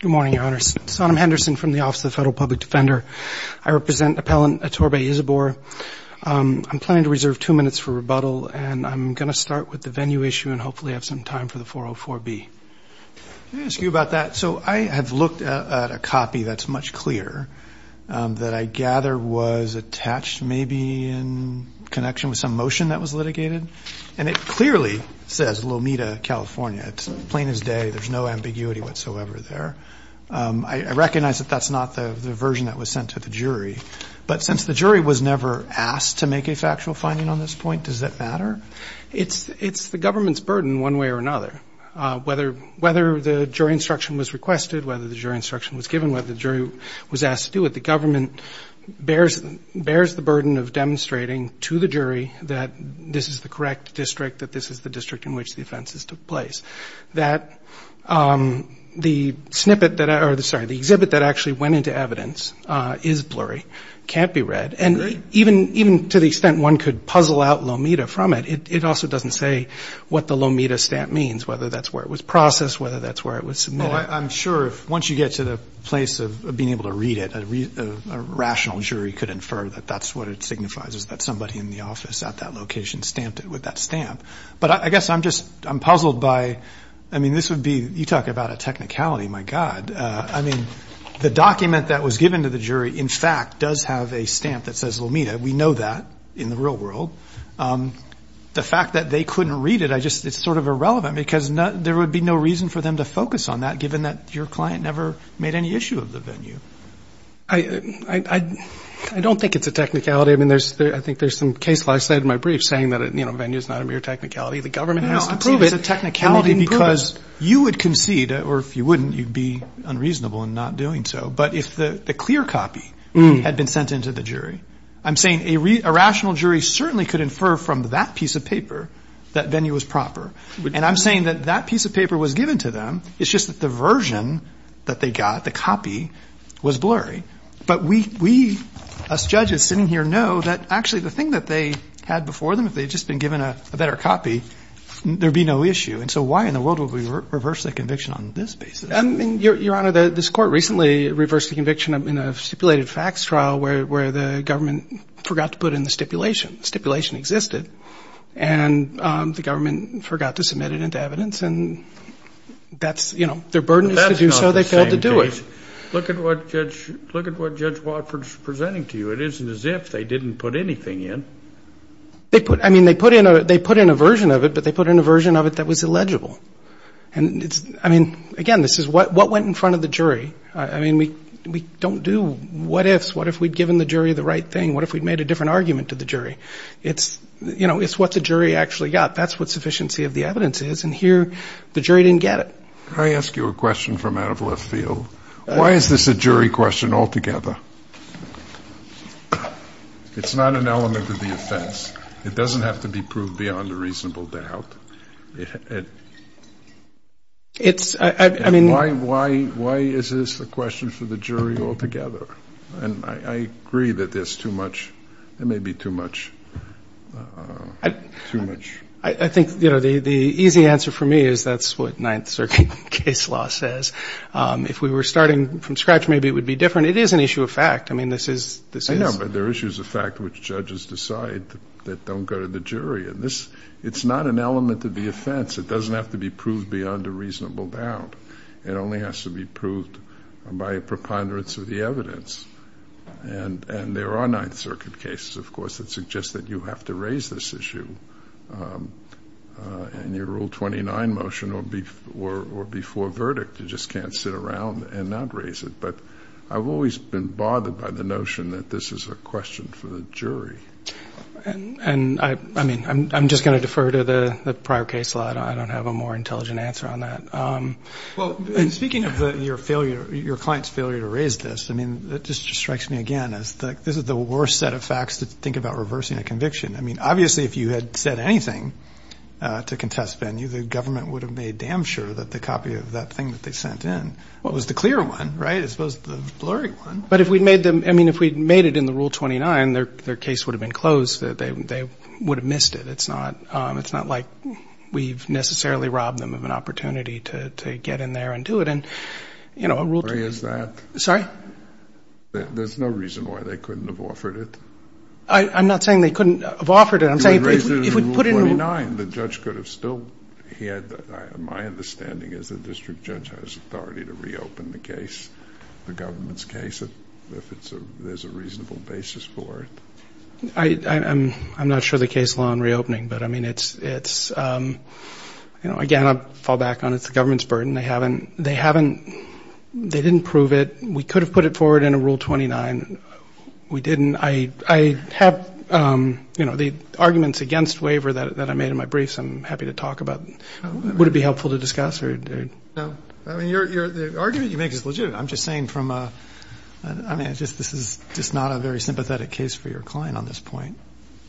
Good morning, your honors. It's Adam Henderson from the Office of the Federal Public Defender. I represent Appellant Atorbe Isibor. I'm planning to reserve two minutes for rebuttal, and I'm going to start with the venue issue and hopefully have some time for the 404-B. Let me ask you about that. So I have looked at a copy that's much clearer that I gather was attached maybe in connection with some motion that was litigated, and it clearly says Lomita, California. It's plain as day. There's no ambiguity whatsoever there. I recognize that that's not the version that was sent to the jury, but since the jury was never asked to make a factual finding on this point, does that matter? It's the government's burden one way or another. Whether the jury instruction was requested, whether the jury instruction was given, whether the jury was asked to do it, the government bears the burden of demonstrating to the jury that this is the correct district, that this is the district in which the offenses took place. The exhibit that actually went into evidence is blurry, can't be read, and even to the extent one could puzzle out Lomita from it, it also doesn't say what the Lomita stamp means, whether that's where it was processed, whether that's where it was submitted. I'm sure once you get to the place of being able to read it, a rational jury could infer that that's what it signifies, is that somebody in the office at that location stamped it with that stamp. But I guess I'm just puzzled by, I mean, this would be, you talk about a technicality, my God. I mean, the document that was given to the jury, in fact, does have a stamp that says Lomita. We know that in the real world. The fact that they couldn't read it, it's sort of irrelevant because there would be no reason for them to focus on that given that your client never made any issue of the venue. I don't think it's a technicality. I mean, I think there's some case law, I said in my brief, saying that a venue is not a mere technicality. The government has to prove it. No, it's a technicality because you would concede, or if you wouldn't, you'd be unreasonable in not doing so. But if the clear copy had been sent into the jury, I'm saying a rational jury certainly could infer from that piece of paper that venue was proper. And I'm saying that that piece of paper was given to them. It's just that the version that they got, the copy, was blurry. But we, us judges sitting here, know that actually the thing that they had before them, if they'd just been given a better copy, there'd be no issue. And so why in the world would we reverse the conviction on this basis? I mean, Your Honor, this court recently reversed the conviction in a stipulated facts trial where the government forgot to put in the stipulation. The stipulation existed, and the government forgot to submit it into evidence. And that's, you know, their burden is to do so. They failed to do it. That's not the same case. Look at what Judge Watford's presenting to you. It isn't as if they didn't put anything in. I mean, they put in a version of it, but they put in a version of it that was illegible. And it's, I mean, again, this is what went in front of the jury. I mean, we don't do what-ifs. What if we'd given the jury the right thing? What if we'd made a different actually got? That's what sufficiency of the evidence is. And here, the jury didn't get it. Can I ask you a question from out of left field? Why is this a jury question altogether? It's not an element of the offense. It doesn't have to be proved beyond a reasonable doubt. It's, I mean- Why is this a question for the jury altogether? And I agree that there's too much, there may be too much, too much- I think, you know, the easy answer for me is that's what Ninth Circuit case law says. If we were starting from scratch, maybe it would be different. It is an issue of fact. I mean, this is- I know, but there are issues of fact which judges decide that don't go to the jury. And this, it's not an element of the offense. It doesn't have to be proved beyond a reasonable doubt. It only has to be proved by a preponderance of the evidence. And there are Ninth Circuit cases, of course, that suggest that you have to raise this issue in your Rule 29 motion or before verdict. You just can't sit around and not raise it. But I've always been bothered by the notion that this is a question for the jury. And I mean, I'm just going to defer to the prior case law. I don't have a more intelligent answer on that. Well, speaking of your failure, your client's failure to raise this, I mean, that just strikes me again as, like, this is the worst set of facts to think about reversing a conviction. I mean, obviously, if you had said anything to contest venue, the government would have made damn sure that the copy of that thing that they sent in was the clear one, right, as opposed to the blurry one. But if we'd made them- I mean, if we'd made it in the Rule 29, their case would have been closed. They would have missed it. It's not like we've necessarily robbed them of an opportunity to get in there and do it. And, you know, a Rule- Where is that? Sorry? Where is that? There's no reason why they couldn't have offered it. I'm not saying they couldn't have offered it. I'm saying if we'd put it in Rule- If we'd raised it in Rule 29, the judge could have still had- my understanding is the district judge has authority to reopen the case, the government's case, if there's a reasonable basis for it. I'm not sure of the case law on reopening. But, I mean, it's- you know, again, I'll fall back on it. It's the government's burden. They haven't- they haven't- they didn't prove it. We could have put it forward in a Rule 29. We didn't. I have, you know, the arguments against waiver that I made in my briefs I'm happy to talk about. Would it be helpful to discuss or- No. I mean, the argument you make is legitimate. I'm just saying from a- I mean, this is just not a very sympathetic case for your client on this point.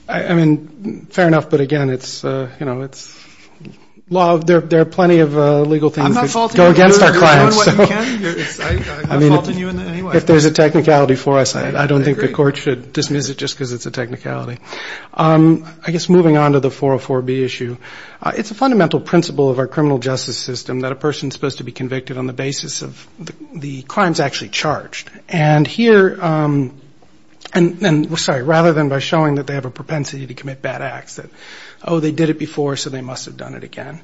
I mean, fair enough. But, again, it's, you know, it's law. There are plenty of legal things that go against our clients. I'm not faulting you. You're doing what you can. I'm not faulting you in any way. I mean, if there's a technicality for us, I don't think the court should dismiss it just because it's a technicality. I guess moving on to the 404B issue, it's a fundamental principle of our criminal justice system that a person's supposed to be convicted on the basis of the crimes actually charged. And here- and, sorry, rather than by showing that they have a propensity to commit bad acts, that, oh, they did it before, so they must have done it again.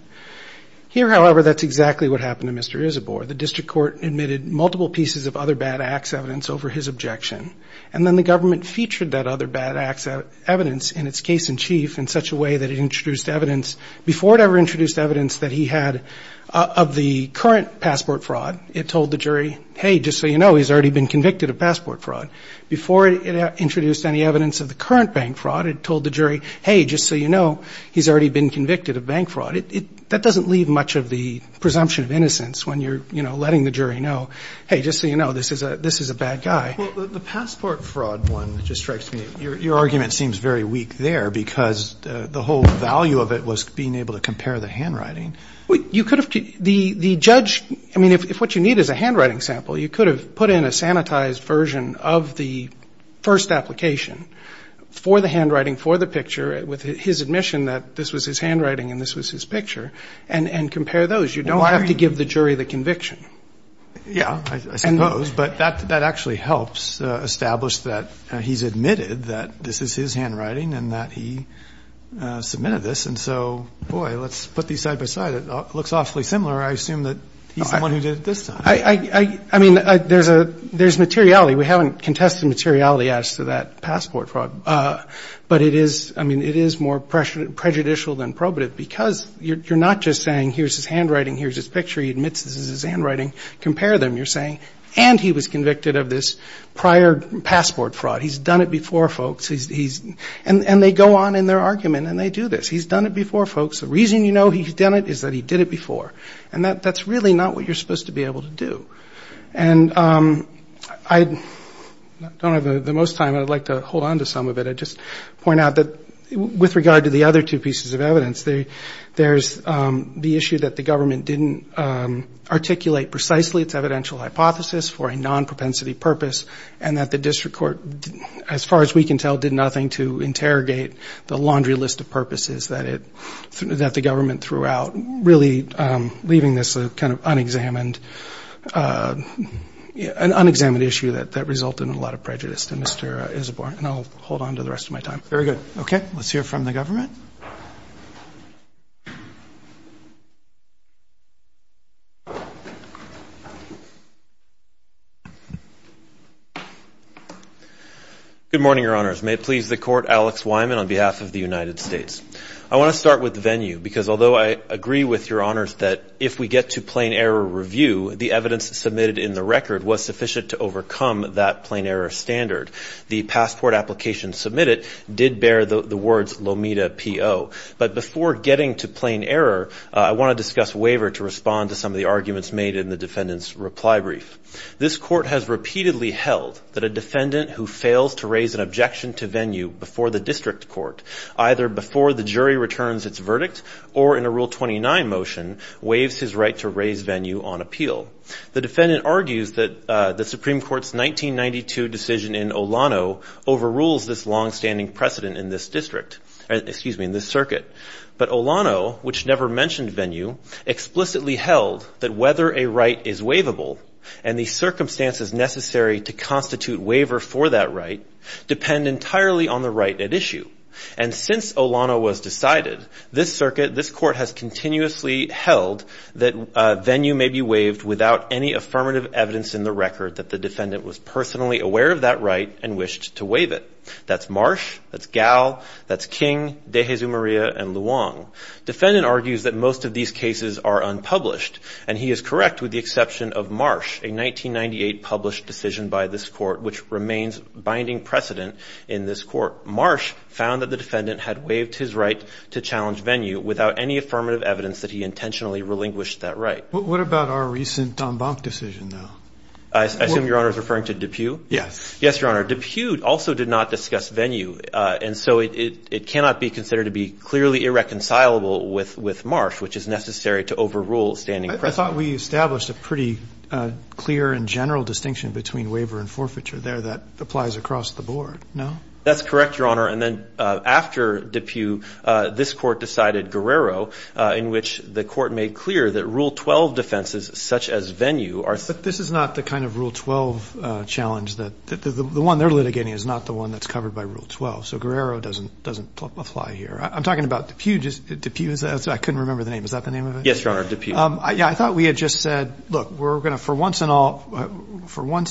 Here, however, that's exactly what happened to Mr. Isabor. The district court admitted multiple pieces of other bad acts evidence over his objection. And then the government featured that other bad acts evidence in its case in chief in such a way that it introduced evidence before it ever introduced evidence that he had of the current passport fraud. It told the jury, hey, just so you know, he's already been convicted of passport fraud. Before it introduced any evidence of the current bank fraud, it told the jury, hey, just so you know, he's already been convicted of bank fraud. That doesn't leave much of the presumption of innocence when you're letting the jury know, hey, just so you know, this is a bad guy. Well, the passport fraud one just strikes me. Your argument seems very weak there because the whole value of it was being able to compare the handwriting. You could have- the judge- I mean, if what you need is a handwriting sample, you could have put in a sanitized version of the first application for the handwriting for the picture with his admission that this was his handwriting and this was his picture and compare those. You don't have to give the jury the conviction. Yeah, I suppose. But that actually helps establish that he's admitted that this is his handwriting and that he submitted this. And so, boy, let's put these side by side. It looks awfully similar. I assume that he's the one who did it this time. I mean, there's a- there's materiality. We haven't contested materiality as to that passport fraud. But it is- I mean, it is more prejudicial than probative because you're not just saying here's his handwriting, here's his picture, he admits this is his handwriting, compare them. You're saying and he was convicted of this prior passport fraud. He's done it before, folks. He's- and they go on in their argument and they do this. He's done it before, folks. The reason you know he's done it is that he did it before. And that's really not what you're supposed to be able to do. And I don't have the most time. I'd like to hold on to some of it. I'd just point out that with regard to the other two pieces of evidence, there's the issue that the government didn't articulate precisely its evidential hypothesis for a non-propensity purpose and that the district court, as far as we can tell, did nothing to interrogate the laundry list of purposes that it- that the government threw out, really leaving this kind of unexamined issue that resulted in a lot of prejudice to Mr. Isabor. And I'll hold on to the rest of my time. Very good. Okay. Let's hear from the government. Good morning, Your Honors. May it please the Court, Alex Wyman on behalf of the United States. I want to start with venue, because although I agree with Your Honors that if we get to plain error review, the evidence submitted in the record was sufficient to overcome that plain error standard. The passport application submitted did bear the words Lomita P.O. But before getting to plain error, I want to discuss waiver to respond to some of the arguments made in the defendant's reply brief. This Court has repeatedly held that a defendant who fails to raise an objection to venue before the district court, either before the jury returns its verdict or in a Rule 29 motion, waives his right to raise venue on appeal. The defendant argues that the Supreme Court's 1992 decision in Olano overrules this longstanding precedent in this district- excuse me, in this circuit. But Olano, which never mentioned venue, explicitly held that whether a right is waivable and the circumstances necessary to constitute waiver for that right depend entirely on the right at issue. And since Olano was decided, this circuit, this Court has continuously held that venue may be waived without any affirmative evidence in the record that the defendant was personally aware of that right and wished to waive it. That's Marsh, that's Gall, that's King, De Jesus Maria, and Luong. The defendant argues that most of these cases are unpublished, and he is correct with the exception of Marsh, a in this Court. Marsh found that the defendant had waived his right to challenge venue without any affirmative evidence that he intentionally relinquished that right. What about our recent en banc decision, though? I assume Your Honor is referring to DePue? Yes. Yes, Your Honor. DePue also did not discuss venue, and so it cannot be considered to be clearly irreconcilable with Marsh, which is necessary to overrule standing precedent. I thought we established a pretty clear and general distinction between waiver and forfeiture there that applies across the board, no? That's correct, Your Honor, and then after DePue, this Court decided Guerrero, in which the Court made clear that Rule 12 defenses, such as venue, are But this is not the kind of Rule 12 challenge that, the one they're litigating is not the one that's covered by Rule 12, so Guerrero doesn't apply here. I'm talking about DePue, DePue, I couldn't remember the name, is that the name of it? Yes, Your Honor, DePue. Yeah, I thought we had just said, look, we're going to, for once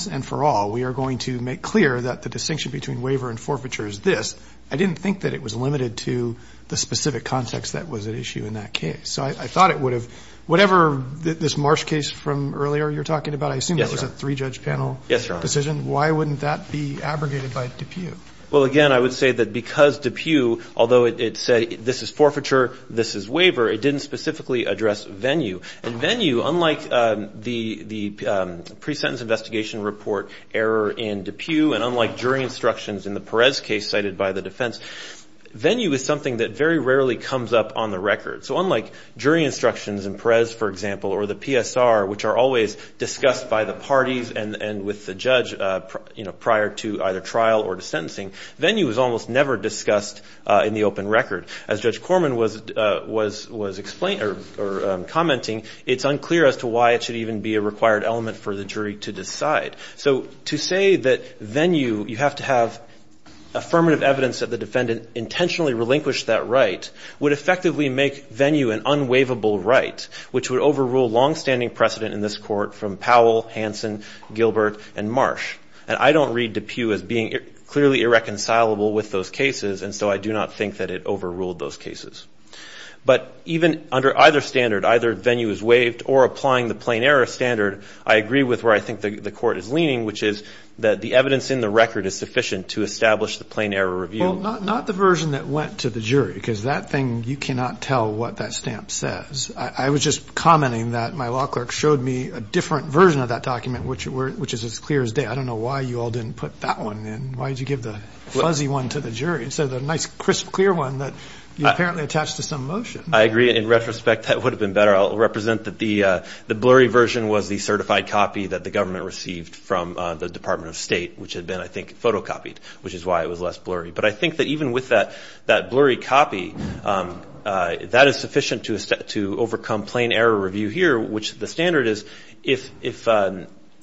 and for all, we are going to make clear that the distinction between waiver and forfeiture is this. I didn't think that it was limited to the specific context that was at issue in that case, so I thought it would have, whatever this Marsh case from earlier you're talking about, I assume that was a three-judge panel decision. Yes, Your Honor. Why wouldn't that be abrogated by DePue? Well, again, I would say that because DePue, although it said this is forfeiture, this is waiver, it didn't specifically address venue. And venue, unlike the pre-sentence investigation report error in DePue, and unlike jury instructions in the Perez case cited by the defense, venue is something that very rarely comes up on the record. So unlike jury instructions in Perez, for example, or the PSR, which are always discussed by the parties and with the judge, you know, prior to either trial or to sentencing, venue was almost never discussed in the open record. As Judge Corman was explaining or commenting, it's unclear as to why it should even be a required element for the jury to decide. So to say that venue, you have to have affirmative evidence that the defendant intentionally relinquished that right would effectively make venue an unwaivable right, which would overrule longstanding precedent in this Court from Powell, Hanson, Gilbert, and Marsh. And I don't read DePue as being clearly irreconcilable with those cases, and so I do not think that it overruled those cases. But even under either standard, either venue is waived or applying the plain error standard, I agree with where I think the Court is leaning, which is that the evidence in the record is sufficient to establish the plain error review. Well, not the version that went to the jury, because that thing, you cannot tell what that stamp says. I was just commenting that my law clerk showed me a different version of that document, which is as clear as day. I don't know why you all didn't put that one in. Why did you give the fuzzy one to the jury instead of the nice, crisp, clear one that you apparently attached to some motion? I agree. In retrospect, that would have been better. I'll represent that the blurry version was the certified copy that the government received from the Department of State, which had been, I think, photocopied, which is why it was less blurry. But I think that even with that blurry copy, that is sufficient to overcome plain error review here, which the standard is, if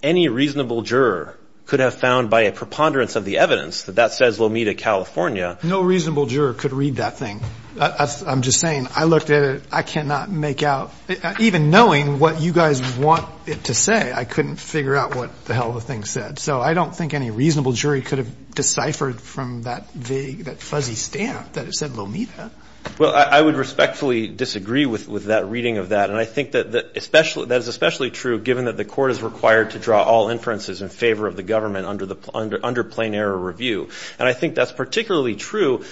any reasonable juror could have found by a preponderance of the evidence that that says Lomita, California. No reasonable juror could read that thing. I'm just saying, I looked at it. I cannot make out, even knowing what you guys want it to say, I couldn't figure out what the hell the thing said. So I don't think any reasonable jury could have deciphered from that vague, that fuzzy stamp that it said Lomita. Well, I would respectfully disagree with that reading of that. And I think that is especially true given that the court is required to draw all inferences in favor of the government under plain error review. And I think that's particularly true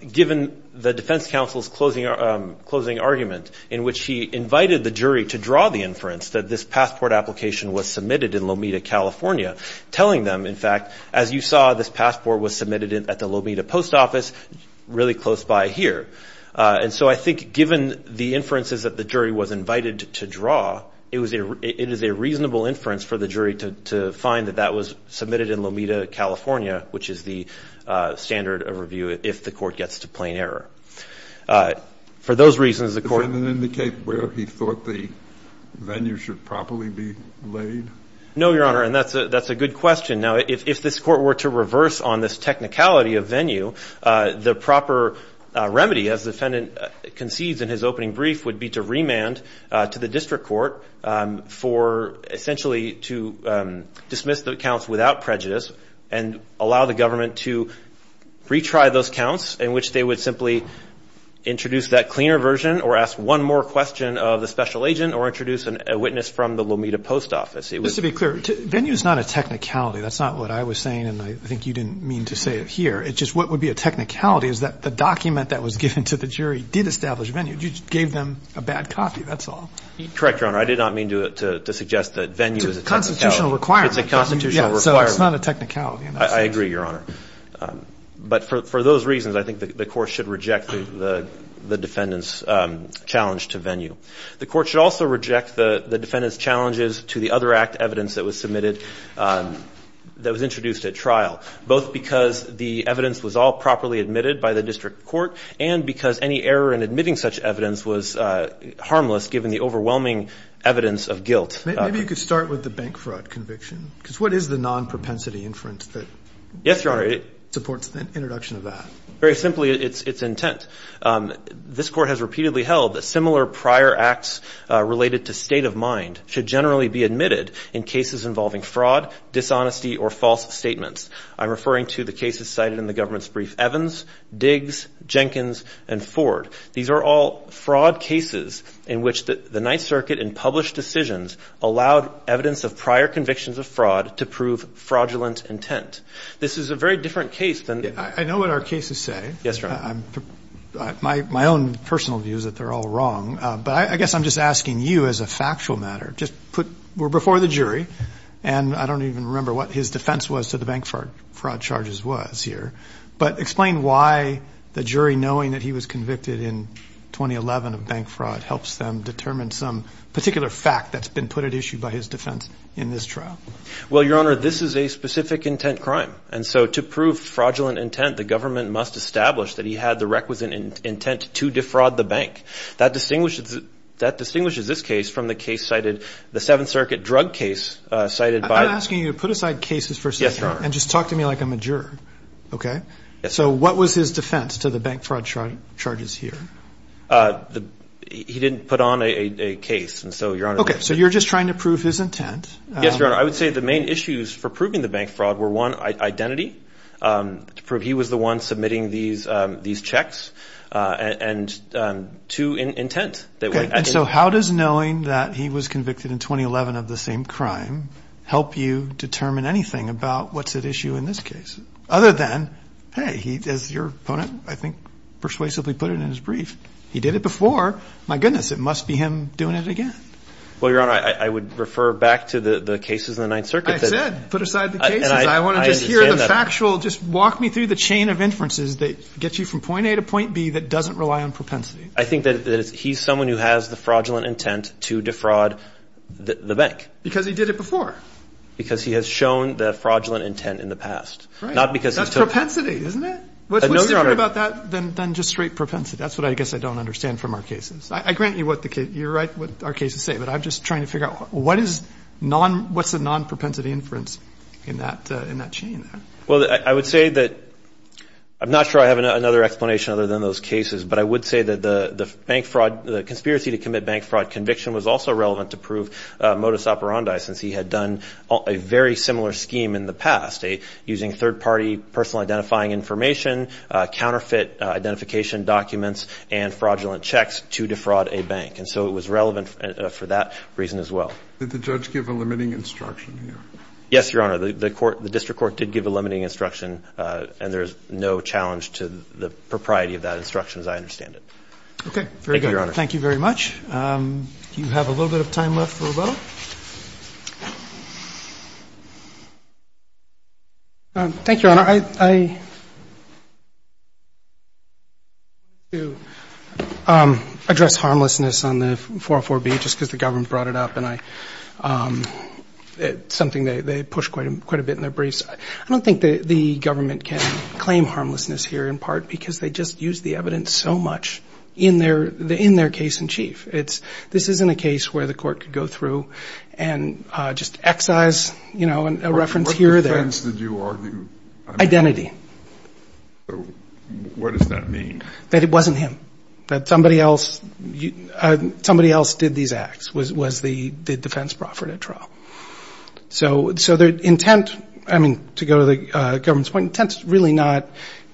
given the defense counsel's closing argument, in which he invited the jury to draw the inference that this passport application was submitted in Lomita, California, telling them, in fact, as you saw, this passport was submitted at the Lomita post office, really close by here. And so I think, given the inferences that the jury was invited to draw, it is a reasonable inference for the jury to find that that was submitted in Lomita, California, which is the standard of review if the court gets to plain error. For those reasons, the court- Does that indicate where he thought the venue should properly be laid? No, Your Honor, and that's a good question. Now, if this court were to reverse on this technicality of venue, the proper remedy, as the defendant concedes in his opening brief, would be to remand to the district court for, essentially, to dismiss the counts without prejudice and allow the government to retry those counts, in which they would simply introduce that cleaner version or ask one more question of the special agent or introduce a witness from the Lomita post office. Just to be clear, venue is not a technicality. That's not what I was saying, and I think you didn't mean to say it here. It's just what would be a technicality is that the document that was given to the jury did establish venue. You just gave them a bad copy, that's all. Correct, Your Honor. I did not mean to suggest that venue is a technicality. It's a constitutional requirement. It's a constitutional requirement. Yeah, so it's not a technicality in that sense. I agree, Your Honor. But for those reasons, I think the court should reject the defendant's challenge to venue. The court should also reject the defendant's challenges to the other act evidence that was submitted, that was introduced at trial, both because the evidence was all properly admitted by the district court and because any error in admitting such evidence was harmless, given the overwhelming evidence of guilt. Maybe you could start with the bank fraud conviction, because what is the non-propensity inference that supports the introduction of that? Very simply, it's intent. This Court has repeatedly held that similar prior acts related to state of mind should generally be admitted in cases involving fraud, dishonesty, or false statements. I'm referring to the cases cited in the government's brief, Evans, Diggs, Jenkins, and Ford. These are all fraud cases in which the Ninth Circuit in published decisions allowed evidence of prior convictions of fraud to prove fraudulent intent. This is a very different case than the other. That's fair to say. My own personal view is that they're all wrong, but I guess I'm just asking you as a factual matter. We're before the jury, and I don't even remember what his defense was to the bank fraud charges was here, but explain why the jury, knowing that he was convicted in 2011 of bank fraud, helps them determine some particular fact that's been put at issue by his defense in this trial. Well, Your Honor, this is a specific intent crime, and so to prove fraudulent intent, the government must establish that he had the requisite intent to defraud the bank. That distinguishes this case from the case cited, the Seventh Circuit drug case cited by- I'm asking you to put aside cases for a second- Yes, Your Honor. And just talk to me like I'm a juror, okay? Yes, Your Honor. So what was his defense to the bank fraud charges here? He didn't put on a case, and so, Your Honor- Okay, so you're just trying to prove his intent. Yes, Your Honor. I would say the main issues for proving the bank fraud were, one, identity, to prove he was the one submitting these checks, and two, intent. So how does knowing that he was convicted in 2011 of the same crime help you determine anything about what's at issue in this case? Other than, hey, he, as your opponent, I think, persuasively put it in his brief, he did it before. My goodness, it must be him doing it again. Well, Your Honor, I would refer back to the cases in the Ninth Circuit that- I said, put aside the cases. I understand that. I want to just hear the factual. Just walk me through the chain of inferences that gets you from point A to point B that doesn't rely on propensity. I think that he's someone who has the fraudulent intent to defraud the bank. Because he did it before. Because he has shown the fraudulent intent in the past. Not because he's- Right. That's propensity, isn't it? No, Your Honor. What's different about that than just straight propensity? That's what I guess I don't understand from our cases. I grant you what the case, you're right, what our cases say, but I'm just trying to figure out what is non- what's the non-propensity inference in that chain there? Well, I would say that- I'm not sure I have another explanation other than those cases, but I would say that the bank fraud- the conspiracy to commit bank fraud conviction was also relevant to prove modus operandi, since he had done a very similar scheme in the past, using third party personal identifying information, counterfeit identification documents, and fraudulent checks to defraud a bank. And so it was relevant for that reason as well. Did the judge give a limiting instruction here? Yes, Your Honor. The court- the district court did give a limiting instruction, and there's no challenge to the propriety of that instruction as I understand it. Okay. Thank you, Your Honor. Very good. Thank you very much. Do you have a little bit of time left for rebuttal? Thank you, Your Honor. I- I- to address harmlessness on the 404B, just because the government brought it up and I- it's something they pushed quite a bit in their briefs. I don't think that the government can claim harmlessness here in part because they just use the evidence so much in their- in their case in chief. This isn't a case where the court could go through and just excise, you know, a reference here or there. What defense did you argue? Identity. So what does that mean? That it wasn't him. That somebody else- somebody else did these acts, was the defense proffered at trial. So their intent, I mean, to go to the government's point, intent's really not-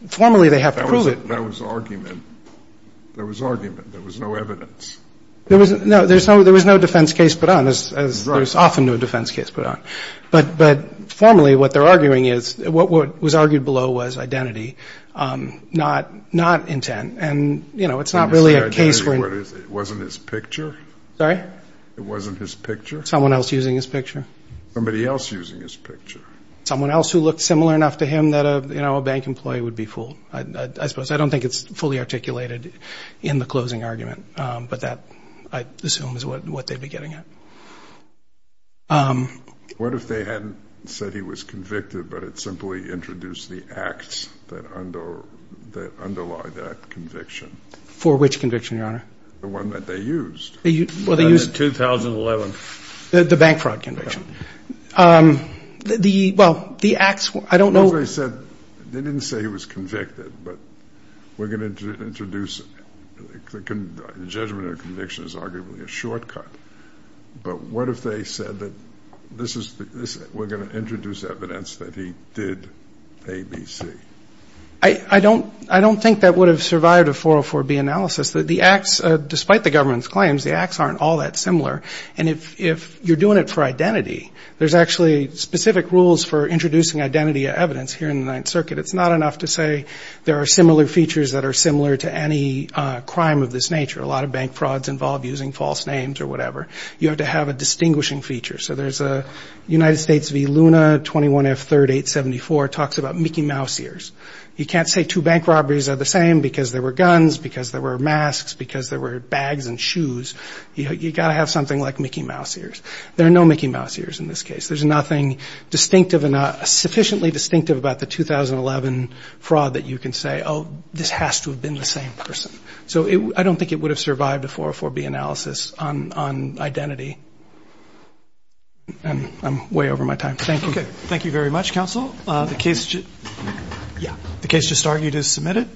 formally they have to prove it. That was argument. There was argument. There was no evidence. There was- no, there's no- there was no defense case put on, as there's often no defense case put on. Right. But- but formally what they're arguing is- what was argued below was identity, not- not intent. And, you know, it's not really a case where- And it's the identity. What is it? It wasn't his picture? Sorry? It wasn't his picture? Someone else using his picture. Somebody else using his picture. Someone else who looked similar enough to him that a, you know, a bank employee would be fooled. I suppose. I don't think it's fully articulated in the closing argument. But that, I assume, is what they'd be getting at. What if they hadn't said he was convicted, but had simply introduced the acts that under- that underlie that conviction? For which conviction, Your Honor? The one that they used. Well, they used- In 2011. The bank fraud conviction. The- well, the acts- I don't know- Well, what if they said- they didn't say he was convicted, but we're going to introduce- the judgment of conviction is arguably a shortcut. But what if they said that this is- we're going to introduce evidence that he did ABC? I don't- I don't think that would have survived a 404B analysis. The acts, despite the government's claims, the acts aren't all that similar. And if- if you're doing it for identity, there's actually specific rules for introducing identity evidence here in the Ninth Circuit. It's not enough to say there are similar features that are similar to any crime of this nature. A lot of bank frauds involve using false names or whatever. You have to have a distinguishing feature. So there's a United States v. Luna, 21F3874, talks about Mickey Mouse ears. You can't say two bank robberies are the same because there were guns, because there were masks, because there were bags and shoes. You got to have something like Mickey Mouse ears. There are no Mickey Mouse ears in this case. There's nothing distinctive enough- sufficiently distinctive about the 2011 fraud that you can say, oh, this has to have been the same person. So it- I don't think it would have survived a 404B analysis on identity. And I'm way over my time. Thank you. Okay. Thank you very much, counsel. The case- yeah. The case just argued is submitted.